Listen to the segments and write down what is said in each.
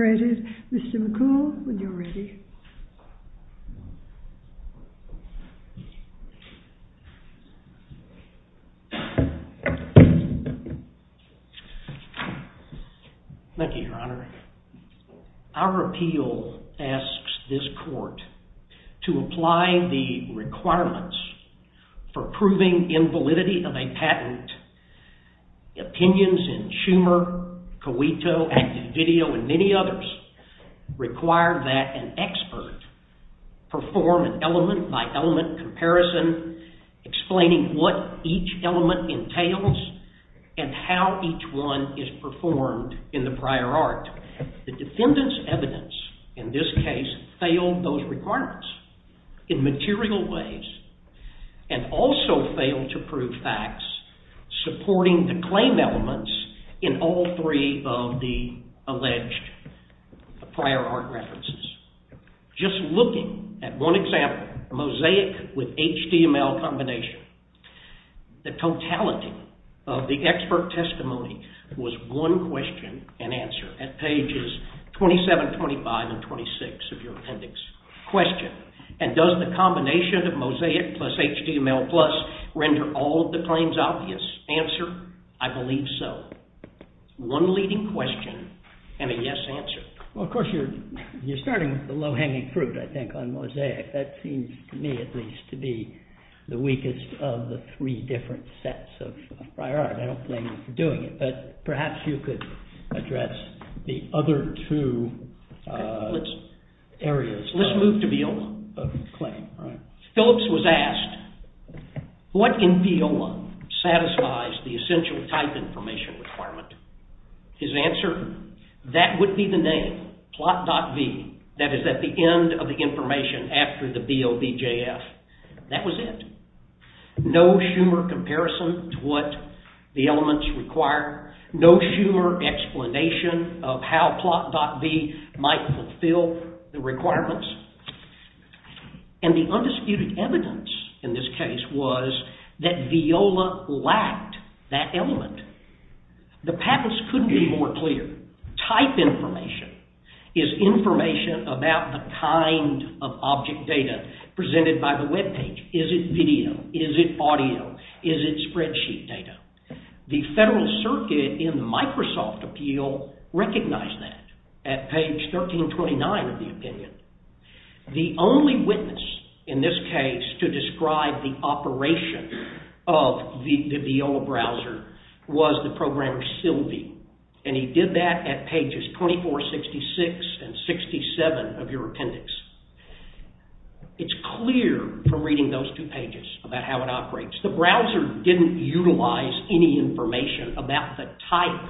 McCool, when you're ready. Thank you, Your Honor. Our appeal asks this to apply the requirements for proving invalidity of a patent. Opinions in Schumer, Cuito, Active Video, and many others require that an expert perform an element-by-element comparison explaining what each element entails and how each one is performed in the prior art. The defendant's proposed requirements in material ways and also fail to prove facts supporting the claim elements in all three of the alleged prior art references. Just looking at one example, mosaic with HTML combination, the totality of the expert testimony was one question and answer at pages 27, 25, and 26 of your appendix. Question, and does the combination of mosaic plus HTML plus render all of the claims obvious? Answer, I believe so. One leading question and a yes answer. Well, of course, you're starting with the low-hanging fruit, I think, on mosaic. That seems to me at least to be the weakest of the three different sets of perhaps you could address the other two areas. Let's move to BEOMA. Phillips was asked, what in BEOMA satisfies the essential type information requirement? His answer, that would be the name, plot.v, that is at the end of the information after the BOBJF. That was it. No Schumer comparison to what the elements require. No Schumer explanation of how plot.v might fulfill the requirements. And the undisputed evidence in this case was that VIOLA lacked that element. The patents couldn't be more clear. Type information is information about the kind of object data presented by the webpage. Is it video? Is it audio? Is it spreadsheet data? The Federal Circuit in the Microsoft appeal recognized that at page 1329 of the opinion. The only witness in this case to describe the operation of the VIOLA browser was the programmer Sylvie, and he did that at pages 2466 and 67 of your appendix. It's clear from reading those two pages about how it operates. The browser didn't utilize any information about the type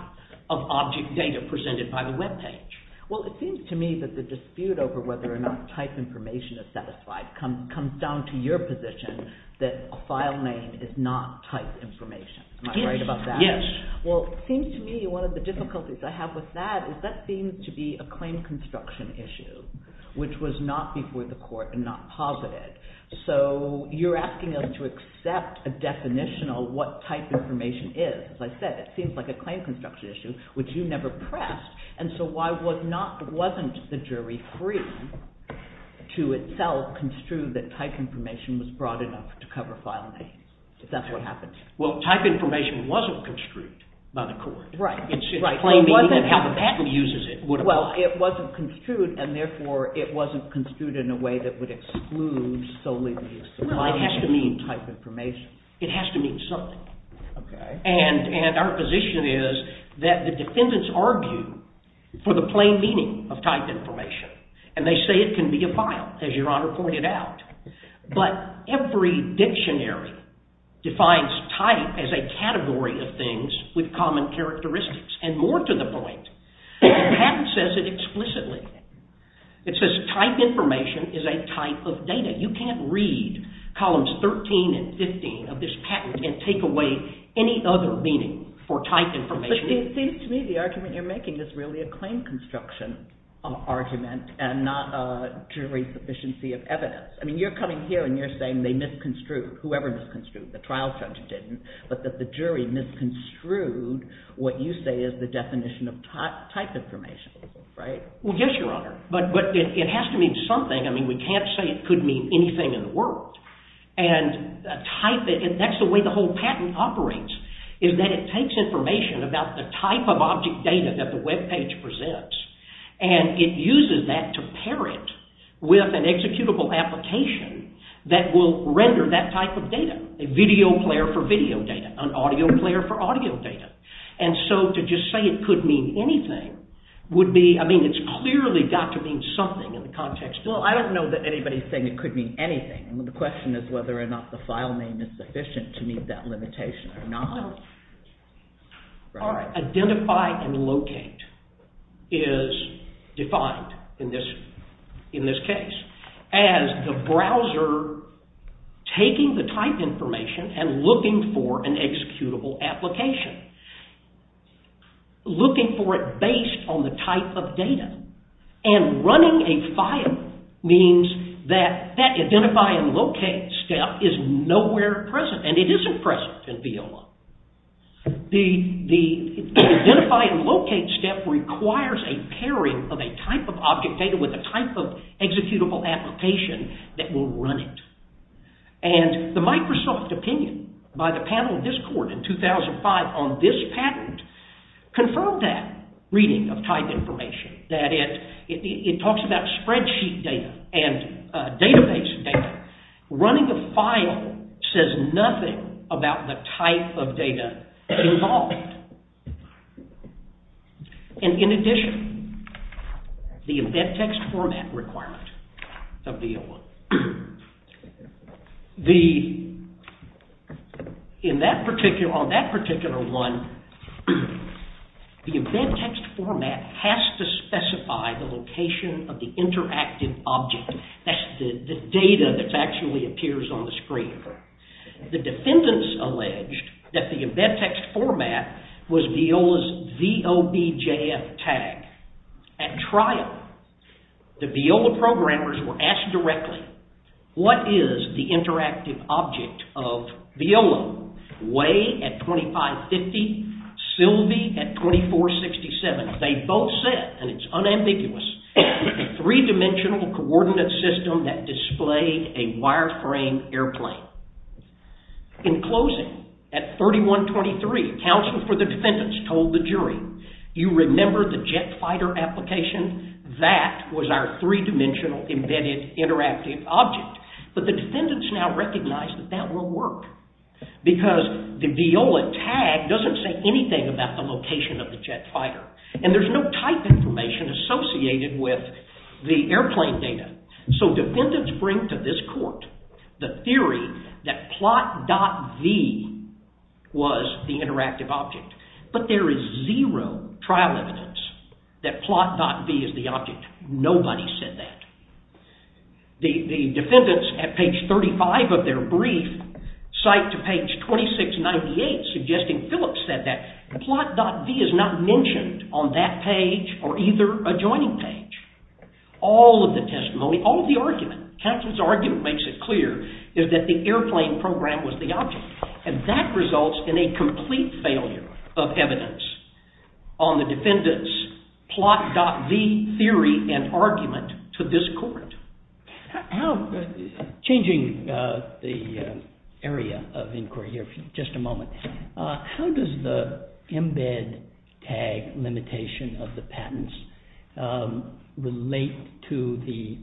of object data presented by the webpage. Well, it seems to me that the dispute over whether or not type information is satisfied comes down to your position that a file name is not type information. Am I right about that? Yes. Well, it seems to me one of the difficulties I have with that is that seems to be a claim construction issue, which was not before the court and not posited. So you're asking us to accept a definition of what type information is. As I said, it seems like a claim construction issue, which you never pressed. And so why wasn't the jury free to itself construe that type information was broad enough to cover file names, if that's what happened? Well, type information wasn't construed by the court. Right. It's in plain meaning of how the patent uses it. Well, it wasn't construed, and therefore it wasn't construed in a way that would exclude Sylvie as well. It has to mean type information. It has to mean something. Okay. And our position is that the defendants argue for the plain meaning of type information, and they say it can be a file, as your honor pointed out. But every dictionary defines type as a category of things with common characteristics. And more to the point, the patent says it explicitly. It says type information is a type of data. You can't read columns 13 and 15 of this patent and take away any other meaning for type information. It seems to me the argument you're making is really a claim construction argument and not a jury sufficiency of evidence. I mean, you're coming here and you're saying they misconstrued, whoever misconstrued, the trial judge didn't, but that the jury misconstrued what you say is the definition of type information, right? Well, yes, your honor. But it has to mean something. I mean, we can't say it could mean anything in the world. And type, that's the way the whole patent operates, is that it takes information about the type of object data that web page presents and it uses that to pair it with an executable application that will render that type of data. A video player for video data, an audio player for audio data. And so to just say it could mean anything would be, I mean, it's clearly got to mean something in the context. Well, I don't know that anybody's saying it could mean anything. The question is whether or not the is defined in this case as the browser taking the type information and looking for an executable application. Looking for it based on the type of data and running a file means that that identify and locate step is nowhere present. And it isn't present in Viola. The identify and locate step requires a pairing of a type of object data with a type of executable application that will run it. And the Microsoft opinion by the panel of this court in 2005 on this patent confirmed that reading of type information, that it talks about spreadsheet data and database data. Running a file says nothing about the type of data involved. And in addition, the embed text format requirement of Viola. The, in that particular, on that particular one, the embed text format has to specify the location of the interactive object. That's the data that actually appears on the screen. The defendants alleged that the What is the interactive object of Viola? Way at 2550, Sylvie at 2467. They both said, and it's unambiguous, three-dimensional coordinate system that displayed a wireframe airplane. In closing, at 3123, counsel for the defendants told the jury, you remember the jet fighter application? That was our three-dimensional embedded interactive object. But the defendants now recognize that that will work because the Viola tag doesn't say anything about the location of the jet fighter. And there's no type information associated with the airplane data. So defendants bring to this court the theory that plot.v was the interactive object. But there is zero trial evidence that plot.v is the object. Nobody said that. The defendants at page 35 of their brief cite to page 2698 suggesting Phillips said that. Plot.v is not mentioned on that page or either adjoining page. All of the testimony, all of the argument, counsel's argument makes it clear, is that the airplane program was the object. And that results in a decision on the defendants' plot.v theory and argument to this court. Changing the area of inquiry here for just a moment, how does the embed tag limitation of the patents relate to the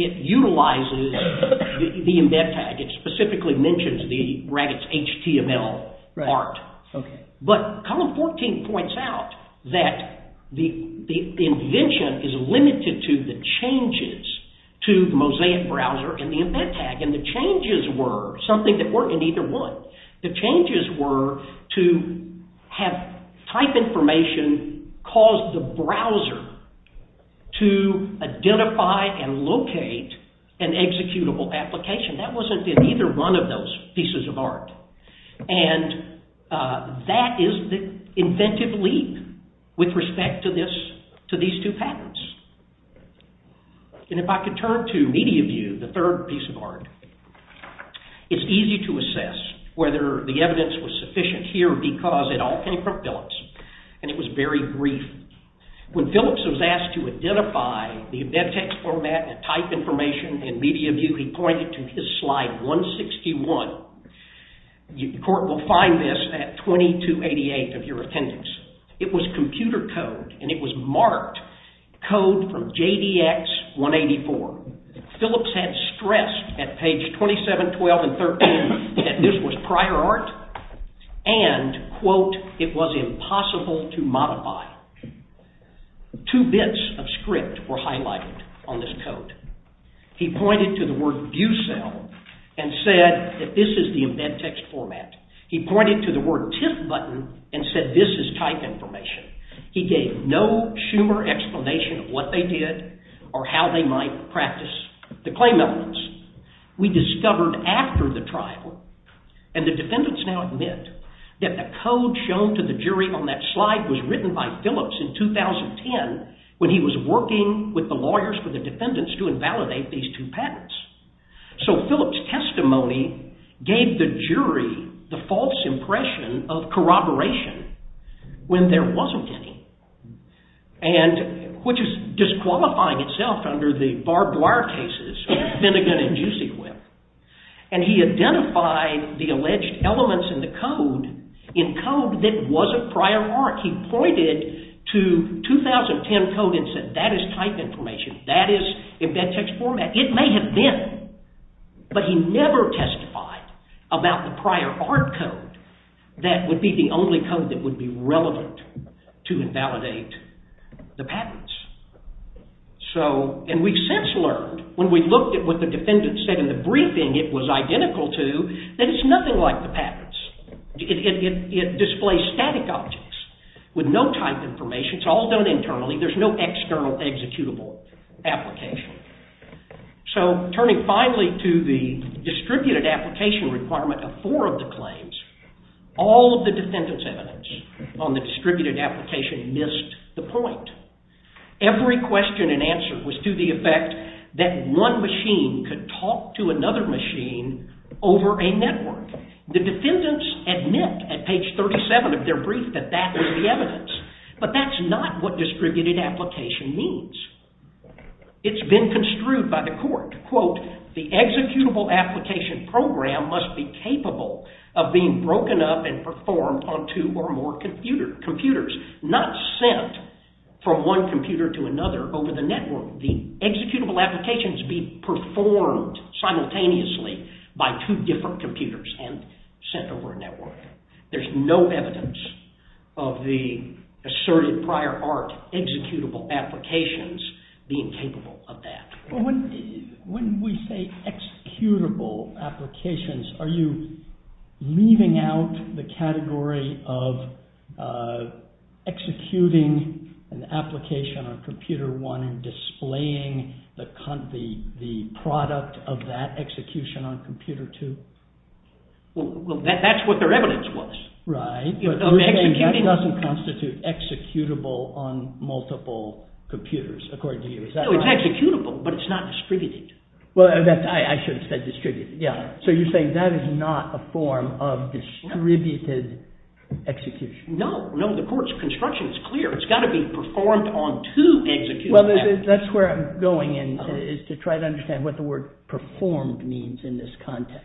It utilizes the embed tag. It specifically mentions the brackets HTML art. But column 14 points out that the invention is limited to the changes to the Mosaic browser and the embed tag. And the changes were something that weren't in either one. The changes were to have type information cause the browser to identify and locate an executable application. That wasn't in either one of those pieces of art. And that is the inventive leap with respect to these two patents. And if I could turn to media view, the third piece of art, it's easy to assess whether the evidence was sufficient here because it all came from Phillips. And it was very brief. When Phillips was asked to identify the embed tag format and type information in media view, he pointed to his slide 161. The court will find this at 2288 of your attendance. It was computer code and it was marked code from JDX 184. Phillips had stressed at page 27, 12, and 13 that this was prior art and, quote, it was impossible to modify. Two bits of script were highlighted on this code. He pointed to the word view cell and said that this is the embed text format. He pointed to the word TIF button and said this is type information. He gave no Schumer explanation of what they did or how they might practice the claim elements. We discovered after the trial, and the defendants now admit, that the code shown to the jury on that slide was written by Phillips in 2010 when he was working with the lawyers for the defendants to invalidate these two patents. So Phillips' testimony gave the jury the false impression of corroboration when there wasn't any, which is disqualifying itself under the barbed wire cases of Finnegan and Juicy Whip. And he identified the alleged elements in the code in code that was of prior art. He pointed to 2010 code and said that is type information, that is embed text format. It may have been, but he never testified about the prior art code that would be the only code that would be relevant to invalidate the patents. And we've since learned, when we looked at what the defendants said in the briefing it was identical to, that it's nothing like the patents. It displays static objects with no type information. It's all done internally. There's no external executable application. So turning finally to the distributed application requirement of four of the claims, all of the defendants' evidence on the distributed application missed the point. Every question and answer was to the effect that one machine could talk to another machine over a network. The defendants admit at page 37 of their brief that that was the evidence, but that's not what distributed application means. It's been construed by the court, quote, the executable application program must be capable of being broken up and performed on two or more computers, not sent from one computer to another over the network. The executable applications be performed simultaneously by two different computers and sent over a network. There's no evidence of the asserted prior art executable applications being capable of that. When we say executable applications, are you leaving out the category of executing an application on computer one and displaying the product of that execution on computer two? Well, that's what their evidence was. Right, but we're saying that doesn't constitute executable on multiple computers, according to you. Is that right? No, it's executable, but it's not distributed. Well, I should have said distributed, yeah. So you're saying that is not a form of distributed execution. No, no, the court's construction is clear. It's got to be performed on two executable applications. Well, that's where I'm going in, is to try to understand what the word performed means in this context.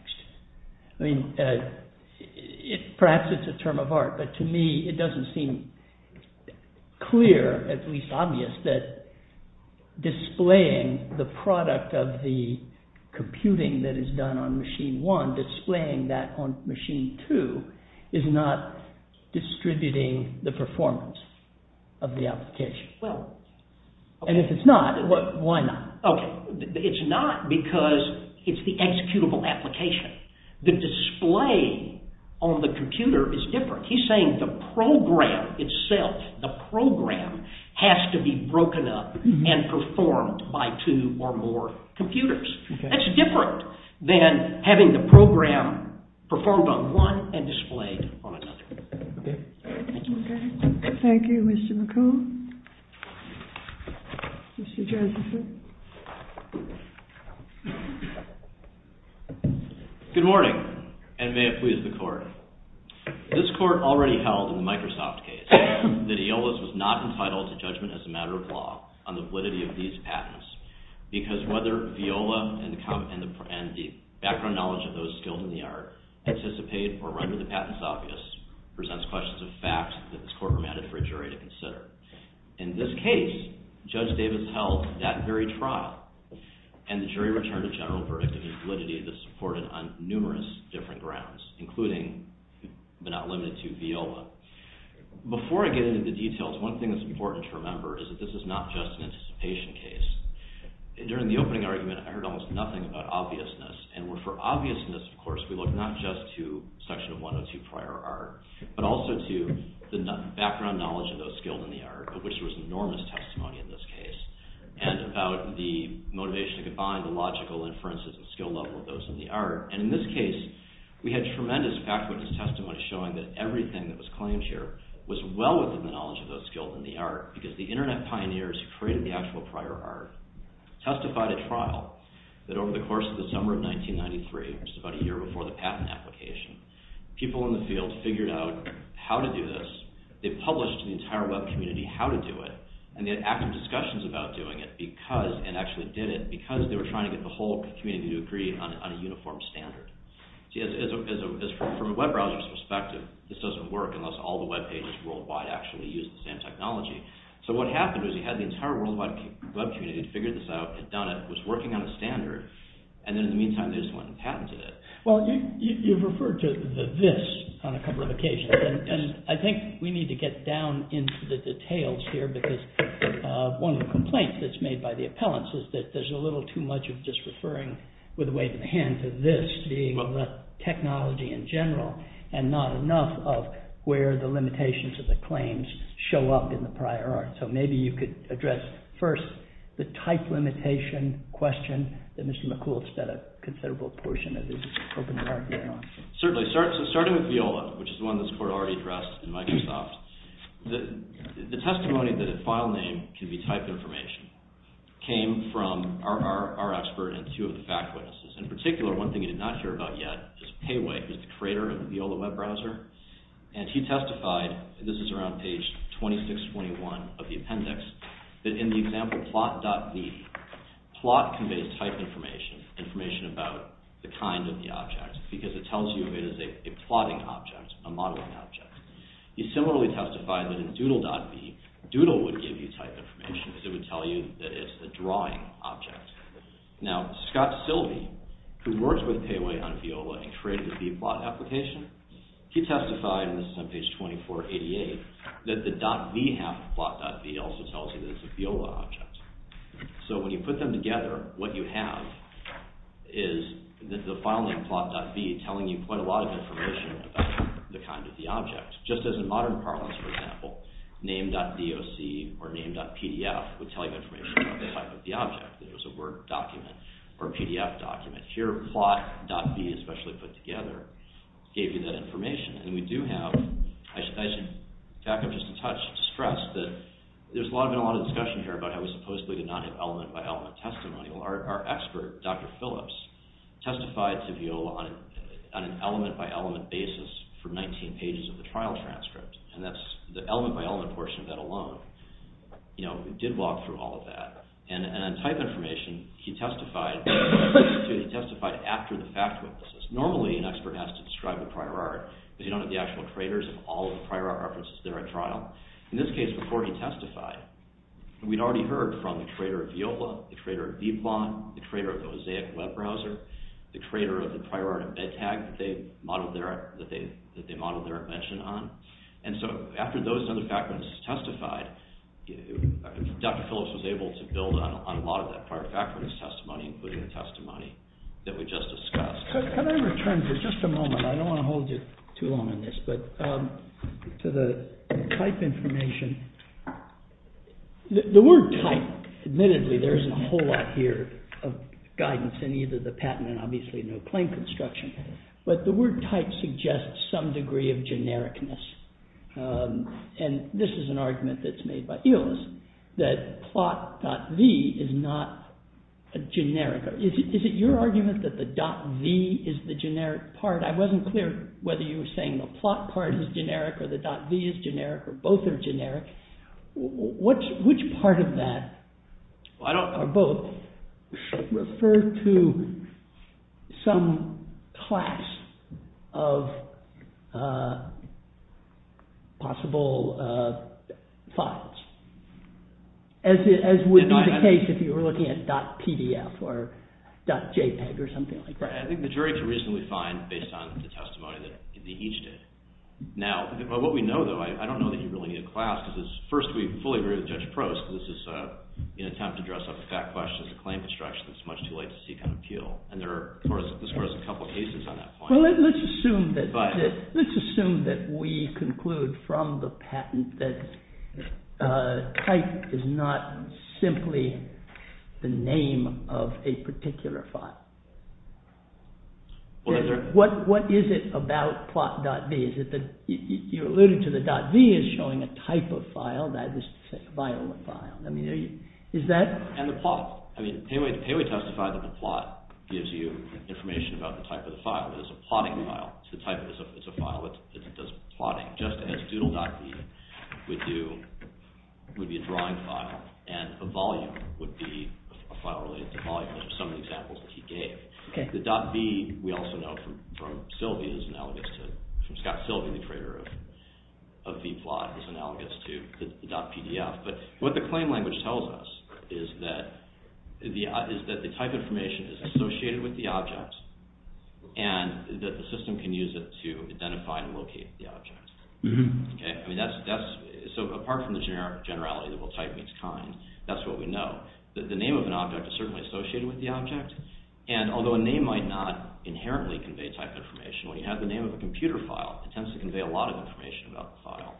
I mean, perhaps it's a term of art, but to me it doesn't seem clear, at least obvious, that displaying the product of the computing that is done on machine one, displaying that on machine two, is not distributing the performance of the application. And if it's not, why not? It's not because it's the executable application. The display on the computer is different. He's saying the program itself, the program, has to be broken up and performed by two or more computers. That's different than having the program performed on one and displayed on another. Thank you, Mr. McComb. Mr. Josephson. Good morning, and may it please the court. This court already held in the Microsoft case that EOLA was not entitled to judgment as a matter of law on the validity of these patents, because whether EOLA and the background knowledge of those skilled in the art anticipate or render the patents obvious presents questions of fact that this court permitted for a jury to consider. In this case, Judge Davis held that very trial, and the jury returned a general verdict of invalidity that supported on numerous different grounds, including, but not limited to, EOLA. Before I get into the details, one thing that's important to remember is that this is not just an anticipation case. During the opening argument, I heard almost nothing about obviousness. And for obviousness, of course, we look not just to Section 102 prior art, but also to the background knowledge of those skilled in the art, of which there was enormous testimony in this case, and about the motivation to combine the logical inferences and skill level of those in the art. And in this case, we had tremendous fact-witness testimony showing that everything that was claimed here was well within the knowledge of those skilled in the art, because the internet pioneers who created the actual prior art testified at trial that over the course of the summer of 1993, which is about a year before the patent application, people in the field figured out how to do this. They published to the entire web community how to do it, and they had active discussions about doing it, and actually did it, because they were trying to get the whole community to agree on a uniform standard. From a web browser's perspective, this doesn't work unless all the web pages worldwide actually use the same technology. So what happened was you had the entire worldwide web community figure this out, had done it, was working on a standard, and then in the meantime they just went and patented it. Well, you've referred to the this on a couple of occasions, and I think we need to get down into the details here, because one of the complaints that's made by the appellants is that there's a little too much of just referring with a wave of the hand to this being the technology in general, and not enough of where the limitations of the claims show up in the prior art. So maybe you could address first the type limitation question that Mr. McCool has said a considerable portion of his opening argument on. Certainly. So starting with Viola, which is one this court already addressed in Microsoft, the testimony that a file name can be typed information came from our expert and two of the fact witnesses. In particular, one thing he did not hear about yet is Pei Wei, who's the creator of the Viola web browser, and he testified, this is around page 2621 of the appendix, that in the example plot.v, plot conveys type information, information about the kind of the object, because it tells you if it is a plotting object, a modeling object. He similarly testified that in doodle.v, doodle would give you type information, because it would tell you that it's a drawing object. Now, Scott Silvey, who works with Pei Wei on Viola and created the Vplot application, he testified, and this is on page 2488, that the .v half of plot.v also tells you that it's a Viola object. So when you put them together, what you have is the file name plot.v telling you quite a lot of information about the kind of the object. Just as in modern parlance, for example, name.doc or name.pdf would tell you information about the type of the object. If it was a Word document or a PDF document. Here, plot.v, especially put together, gave you that information. And we do have, I should back up just a touch to stress that there's been a lot of discussion here about how we supposedly did not have element-by-element testimony. Well, our expert, Dr. Phillips, testified to Viola on an element-by-element basis for 19 pages of the trial transcript, and that's the element-by-element portion of that alone, did walk through all of that. And on type information, he testified after the fact witnesses. Normally, an expert has to describe the prior art, but you don't have the actual traders of all of the prior art references there at trial. In this case, before he testified, we'd already heard from the trader of Viola, the trader of Vplot, the trader of the Mosaic web browser, the trader of the prior art of Medtag that they modeled their invention on. And so, after those other fact witnesses testified, Dr. Phillips was able to build on a lot of that prior fact witness testimony, including the testimony that we just discussed. Can I return for just a moment, I don't want to hold you too long on this, but to the type information. The word type, admittedly, there isn't a whole lot here of guidance in either the patent and obviously no claim construction, but the word type suggests some degree of genericness. And this is an argument that's made by Ilyas, that plot.v is not a generic. Is it your argument that the .v is the generic part? I wasn't clear whether you were saying the plot part is generic or the .v is generic or both are generic. Which part of that, or both, refer to some class of possible files? As would be the case if you were looking at .pdf or .jpeg or something like that. I think the jury could reasonably find, based on the testimony that they each did. Now, what we know, though, I don't know that you really need a class, because first we fully agree with Judge Prost, because this is an attempt to dress up a fact question as a claim construction. It's much too late to seek an appeal. And there are, of course, a couple of cases on that point. Well, let's assume that we conclude from the patent that type is not simply the name of a particular file. What is it about plot.v? You alluded to the .v as showing a type of file, that is to say a violent file. And the plot. I mean, Peiwei testified that the plot gives you information about the type of the file. It is a plotting file. It's a file that does plotting, just as doodle.v would be a drawing file, and a volume would be a file related to volume. Those are some of the examples that he gave. The .v, we also know from Scott Silvey, the creator of vplot, is analogous to the .pdf. But what the claim language tells us is that the type information is associated with the object, and that the system can use it to identify and locate the object. So apart from the generality that we'll type each kind, that's what we know. The name of an object is certainly associated with the object, and although a name might not inherently convey type information, when you have the name of a computer file, it tends to convey a lot of information about the file.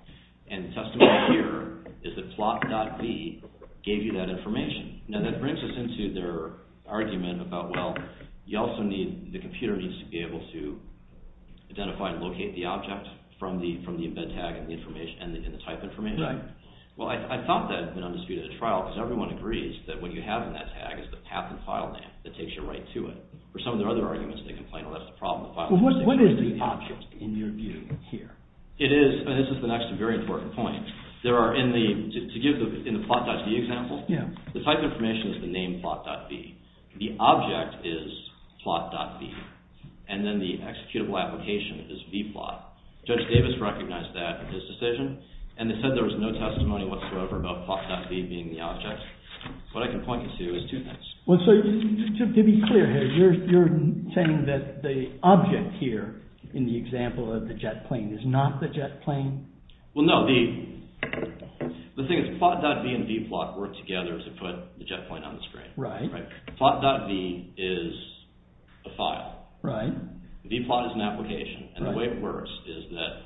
And the testimony here is that plot.v gave you that information. Now that brings us into their argument about, well, you also need, the computer needs to be able to identify and locate the object from the embed tag and the information, and the type information. Right. Well, I thought that had been undisputed at trial, because everyone agrees that what you have in that tag is the path and file name that takes you right to it. For some of their other arguments, they complain, well, that's the problem. Well, what is the option in your view here? It is, and this is the next very important point, there are in the, to give in the plot.v example, the type information is the name plot.v. The object is plot.v, and then the executable application is vplot. Judge Davis recognized that in his decision, and they said there was no testimony whatsoever about plot.v being the object. What I can point you to is two things. Well, so, to be clear here, you're saying that the object here in the example of the jet plane is not the jet plane? Well, no, the thing is plot.v and vplot work together to put the jet plane on the screen. Right. Plot.v is a file. Right. Vplot is an application, and the way it works is that,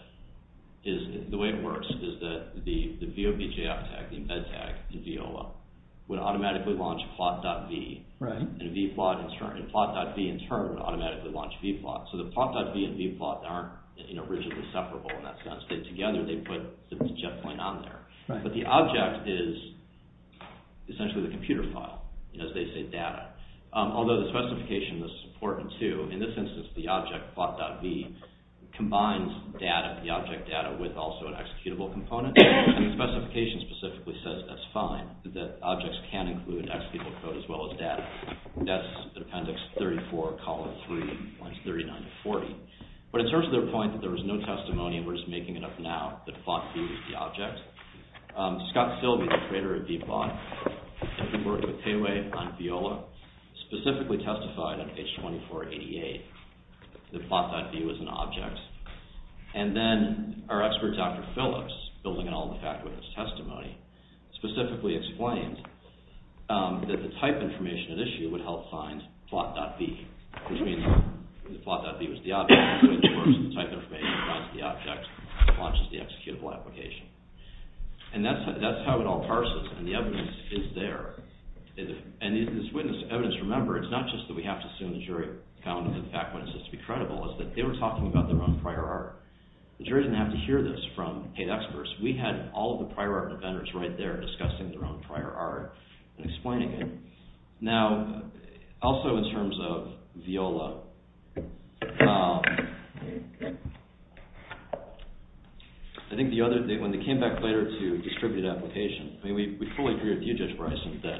the VOPJF tag, the embed tag in VOL, would automatically launch plot.v. Right. And vplot in turn, and plot.v in turn would automatically launch vplot. So, the plot.v and vplot aren't, you know, rigidly separable in that sense. They together, they put the jet plane on there. Right. But the object is essentially the computer file, as they say data. Although the specification is important too. In this instance, the object plot.v combines data, the object data, with also an executable component. And the specification specifically says that's fine, that objects can include executable code as well as data. That's the appendix 34, column 3, lines 39 to 40. But in terms of their point that there was no testimony, and we're just making it up now, that plot.v is the object. Scott Silvey, the creator of vplot, who worked with Pei Wei on Viola, specifically testified on H2488 that plot.v was an object. And then our expert Dr. Phillips, building on the fact with his testimony, specifically explained that the type information at issue would help find plot.v, which means that plot.v was the object, which works with the type information, provides the object, and launches the executable application. And that's how it all parses, and the evidence is there. And this evidence, remember, it's not just that we have to assume the jury found the fact when it says to be credible. It's that they were talking about their own prior art. The jury didn't have to hear this from paid experts. We had all of the prior art defenders right there discussing their own prior art and explaining it. Now, also in terms of Viola, I think when they came back later to distributed application, I mean, we fully agree with you, Judge Bryson, that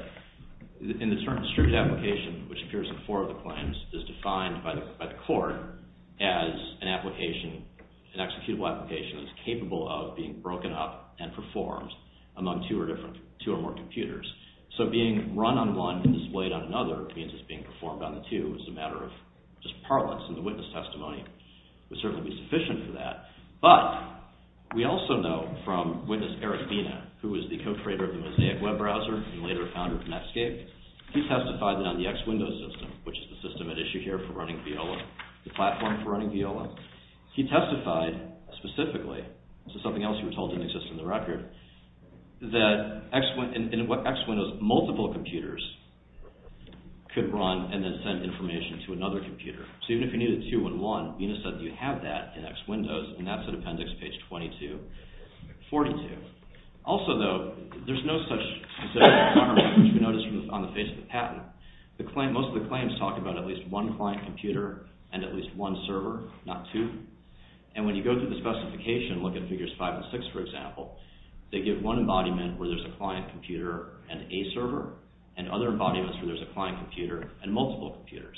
in the term distributed application, which appears in four of the claims, is defined by the court as an application, an executable application that's capable of being broken up and performed among two or more computers. So being run on one and displayed on another means it's being performed on the two. It's a matter of just parlance, and the witness testimony would certainly be sufficient for that. But we also know from witness Eric Bina, who was the co-creator of the Mosaic web browser and later the founder of Netscape, he testified that on the X Windows system, which is the system at issue here for running Viola, the platform for running Viola, he testified specifically, this is something else you were told didn't exist on the record, that in X Windows, multiple computers could run and then send information to another computer. So even if you needed two in one, Bina said you have that in X Windows, and that's in appendix page 22, 42. Also, though, there's no such requirement, which we noticed on the face of the patent. Most of the claims talk about at least one client computer and at least one server, not two. And when you go through the specification, look at figures five and six, for example, they give one embodiment where there's a client computer and a server, and other embodiments where there's a client computer and multiple computers.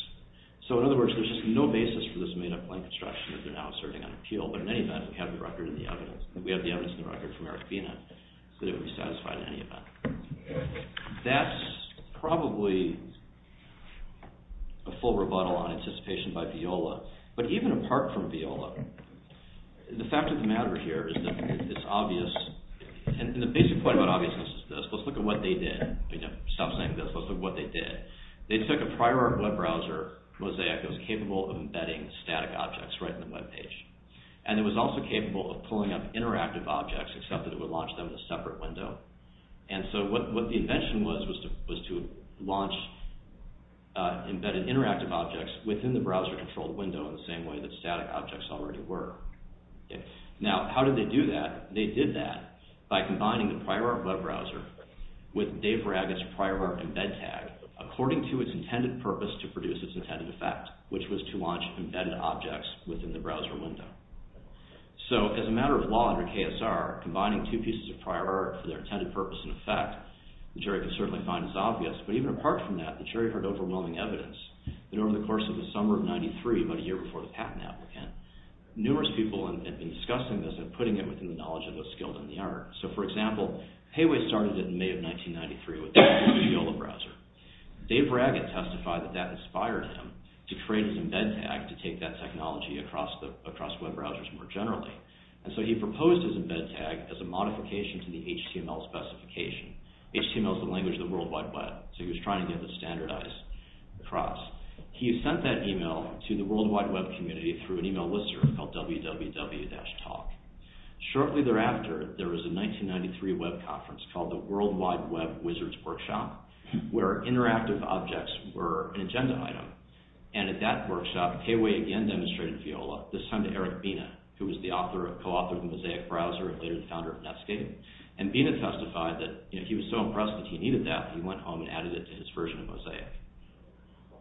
So in other words, there's just no basis for this made-up plain construction that they're now asserting on appeal. But in any event, we have the evidence in the record from Eric Bina that it would be satisfied in any event. That's probably a full rebuttal on anticipation by Viola. But even apart from Viola, the fact of the matter here is that it's obvious. And the basic point about obviousness is this. Let's look at what they did. Stop saying this. Let's look at what they did. They took a prior web browser, Mosaic, that was capable of embedding static objects right in the web page. And it was also capable of pulling up interactive objects, except that it would launch them in a separate window. And so what the invention was, was to launch embedded interactive objects within the browser-controlled window in the same way that static objects already were. Now, how did they do that? They did that by combining the prior web browser with Dave Ragget's prior web embed tag according to its intended purpose to produce its intended effect, which was to launch embedded objects within the browser window. So, as a matter of law under KSR, combining two pieces of prior art for their intended purpose and effect, which I can certainly find as obvious, but even apart from that, the jury heard overwhelming evidence that over the course of the summer of 93, about a year before the patent applicant, numerous people had been discussing this and putting it within the knowledge of those skilled in the art. So, for example, Hayway started it in May of 1993 with the Viola browser. Dave Ragget testified that that inspired him to create his embed tag to take that technology across web browsers more generally. And so he proposed his embed tag as a modification to the HTML specification. HTML is the language of the World Wide Web, so he was trying to get it standardized across. He sent that email to the World Wide Web community through an email listener called www-talk. Shortly thereafter, there was a 1993 web conference called the World Wide Web Wizards Workshop where interactive objects were an agenda item. And at that workshop, Hayway again demonstrated Viola, this time to Eric Bina, who was the co-author of the Mosaic browser and later the founder of Netscape. And Bina testified that he was so impressed that he needed that, he went home and added it to his version of Mosaic.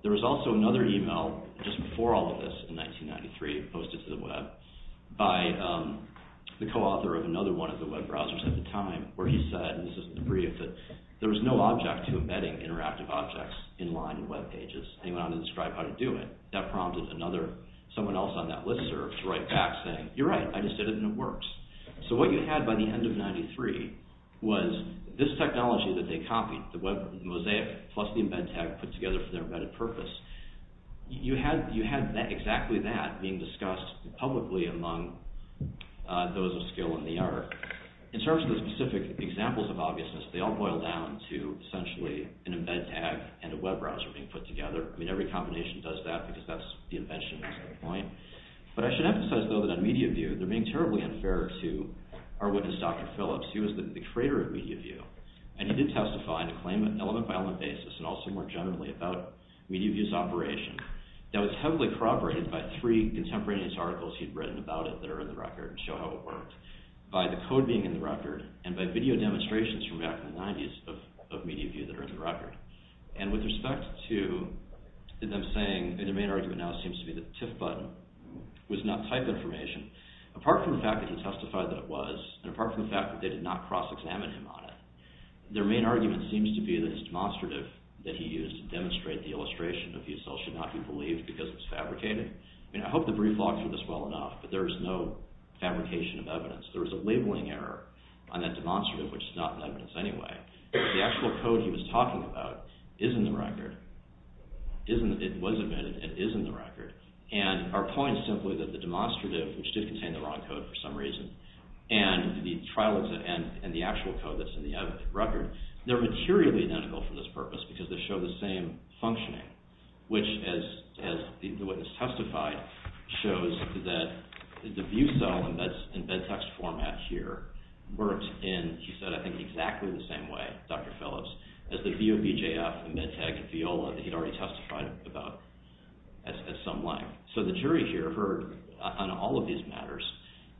There was also another email just before all of this in 1993 posted to the web by the co-author of another one of the web browsers at the time where he said, there was no object to embedding interactive objects in line with web pages. And he went on to describe how to do it. That prompted someone else on that list server to write back saying, you're right, I just did it and it works. So what you had by the end of 1993 was this technology that they copied, the Mosaic plus the embed tag put together for their embedded purpose. You had exactly that being discussed publicly among those of skill in the art. In terms of the specific examples of obviousness, they all boil down to essentially an embed tag and a web browser being put together. I mean, every combination does that because that's the invention at that point. But I should emphasize though that on MediaView, they're being terribly unfair to our witness, Dr. Phillips, who was the creator of MediaView. And he did testify on an element-by-element basis and also more generally about MediaView's operation. That was heavily corroborated by three contemporaneous articles he'd written about it that are in the record and show how it worked by the code being in the record and by video demonstrations from back in the 90s of MediaView that are in the record. And with respect to them saying, and their main argument now seems to be that the TIF button was not type information, apart from the fact that he testified that it was and apart from the fact that they did not cross-examine him on it, their main argument seems to be that it's demonstrative that he used to demonstrate the illustration of the assault should not be believed because it's fabricated. I mean, I hope the brief logs are this well enough, but there is no fabrication of evidence. There is a labeling error on that demonstrative, which is not in evidence anyway. The actual code he was talking about is in the record. It was admitted and is in the record. And our point is simply that the demonstrative, which did contain the wrong code for some reason, and the actual code that's in the record, they're materially identical for this purpose because they show the same functioning, which, as the witness testified, shows that the view cell and bed text format here worked in, he said, I think, exactly the same way, Dr. Phillips, as the view of BJF and MedTech and Viola that he'd already testified about at some length. So the jury here heard, on all of these matters,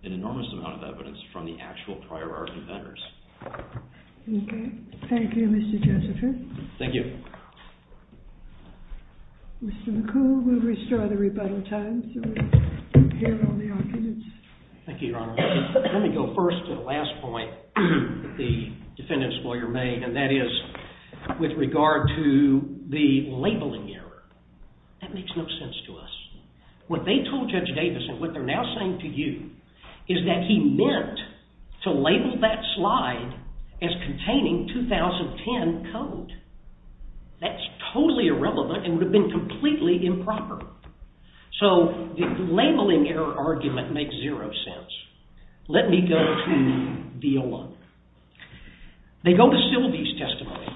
an enormous amount of evidence from the actual prior art inventors. Okay. Thank you, Mr. Josephin. Thank you. Mr. McCullough, we'll restore the rebuttal time so we can hear all the arguments. Thank you, Your Honor. Let me go first to the last point the defendant's lawyer made, and that is with regard to the labeling error. That makes no sense to us. What they told Judge Davidson, what they're now saying to you, is that he meant to label that slide as containing 2010 code. That's totally irrelevant and would have been completely improper. So the labeling error argument makes zero sense. Let me go to Viola. They go to Sylvie's testimony.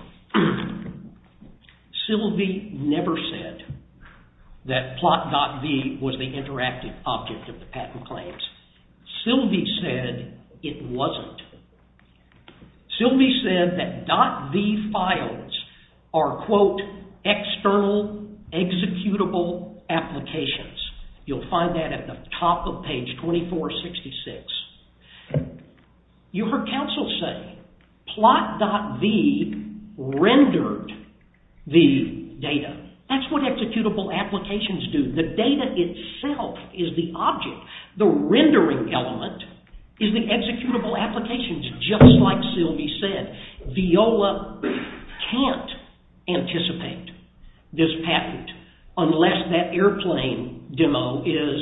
Sylvie never said that plot.v was the interactive object of the patent claims. Sylvie said it wasn't. Sylvie said that .v files are, quote, external, executable applications. You'll find that at the top of page 2466. You heard counsel say plot.v rendered the data. That's what executable applications do. The data itself is the object. The rendering element is the executable applications, just like Sylvie said. Viola can't anticipate this patent unless that airplane demo is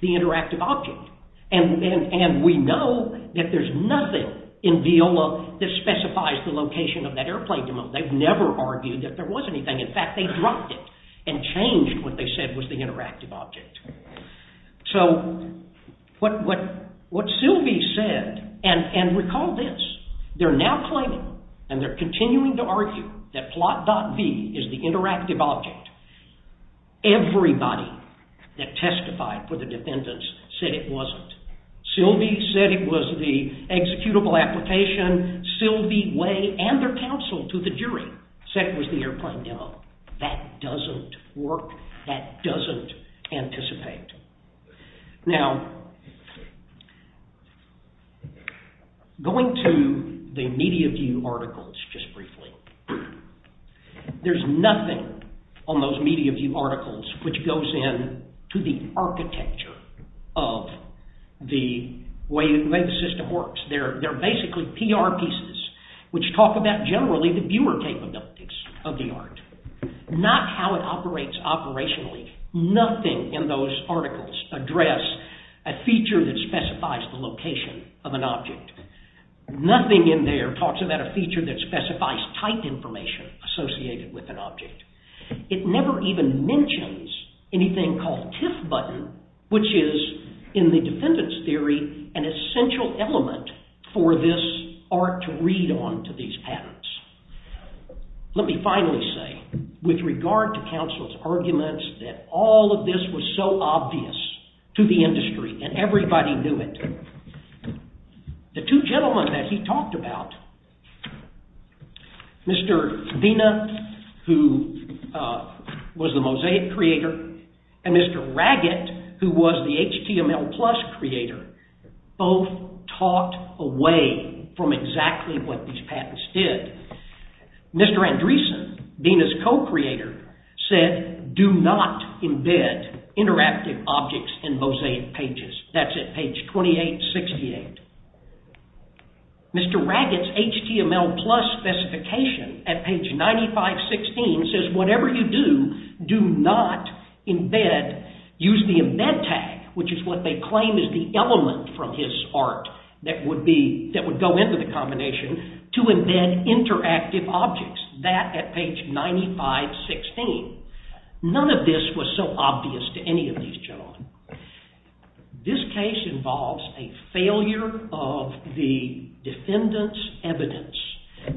the interactive object. And we know that there's nothing in Viola that specifies the location of that airplane demo. They've never argued that there was anything. In fact, they dropped it and changed what they said was the interactive object. So what Sylvie said, and recall this, they're now claiming and they're continuing to argue that plot.v is the interactive object. Everybody that testified for the defendants said it wasn't. Sylvie said it was the executable application. Sylvie Way and their counsel to the jury said it was the airplane demo. That doesn't work. That doesn't anticipate. Now, going to the MediaView articles just briefly, there's nothing on those MediaView articles which goes in to the architecture of the way the system works. They're basically PR pieces which talk about generally the viewer capabilities of the art, not how it operates operationally. Nothing in those articles address a feature that specifies the location of an object. Nothing in there talks about a feature that specifies type information associated with an object. It never even mentions anything called TIFF button, which is, in the defendant's theory, an essential element for this art to read on to these patents. Let me finally say, with regard to counsel's arguments, that all of this was so obvious to the industry, and everybody knew it. The two gentlemen that he talked about, Mr. Vena, who was the Mosaic creator, and Mr. Raggett, who was the HTML Plus creator, both talked away from exactly what these patents did. Mr. Andreessen, Vena's co-creator, said, do not embed interactive objects in Mosaic pages. That's at page 2868. Mr. Raggett's HTML Plus specification at page 9516 says, whatever you do, do not use the embed tag, which is what they claim is the element from his art that would go into the combination, to embed interactive objects. That at page 9516. None of this was so obvious to any of these gentlemen. This case involves a failure of the defendant's evidence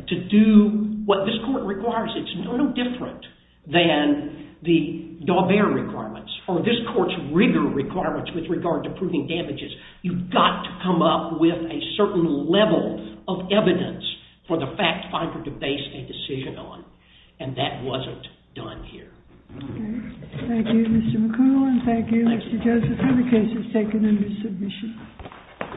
to do what this court requires. It's no different than the Daubert requirements, or this court's rigor requirements, with regard to proving damages. You've got to come up with a certain level of evidence for the fact finder to base a decision on. And that wasn't done here. Thank you, Mr. McCool, and thank you, Mr. Joseph, for the cases taken under submission.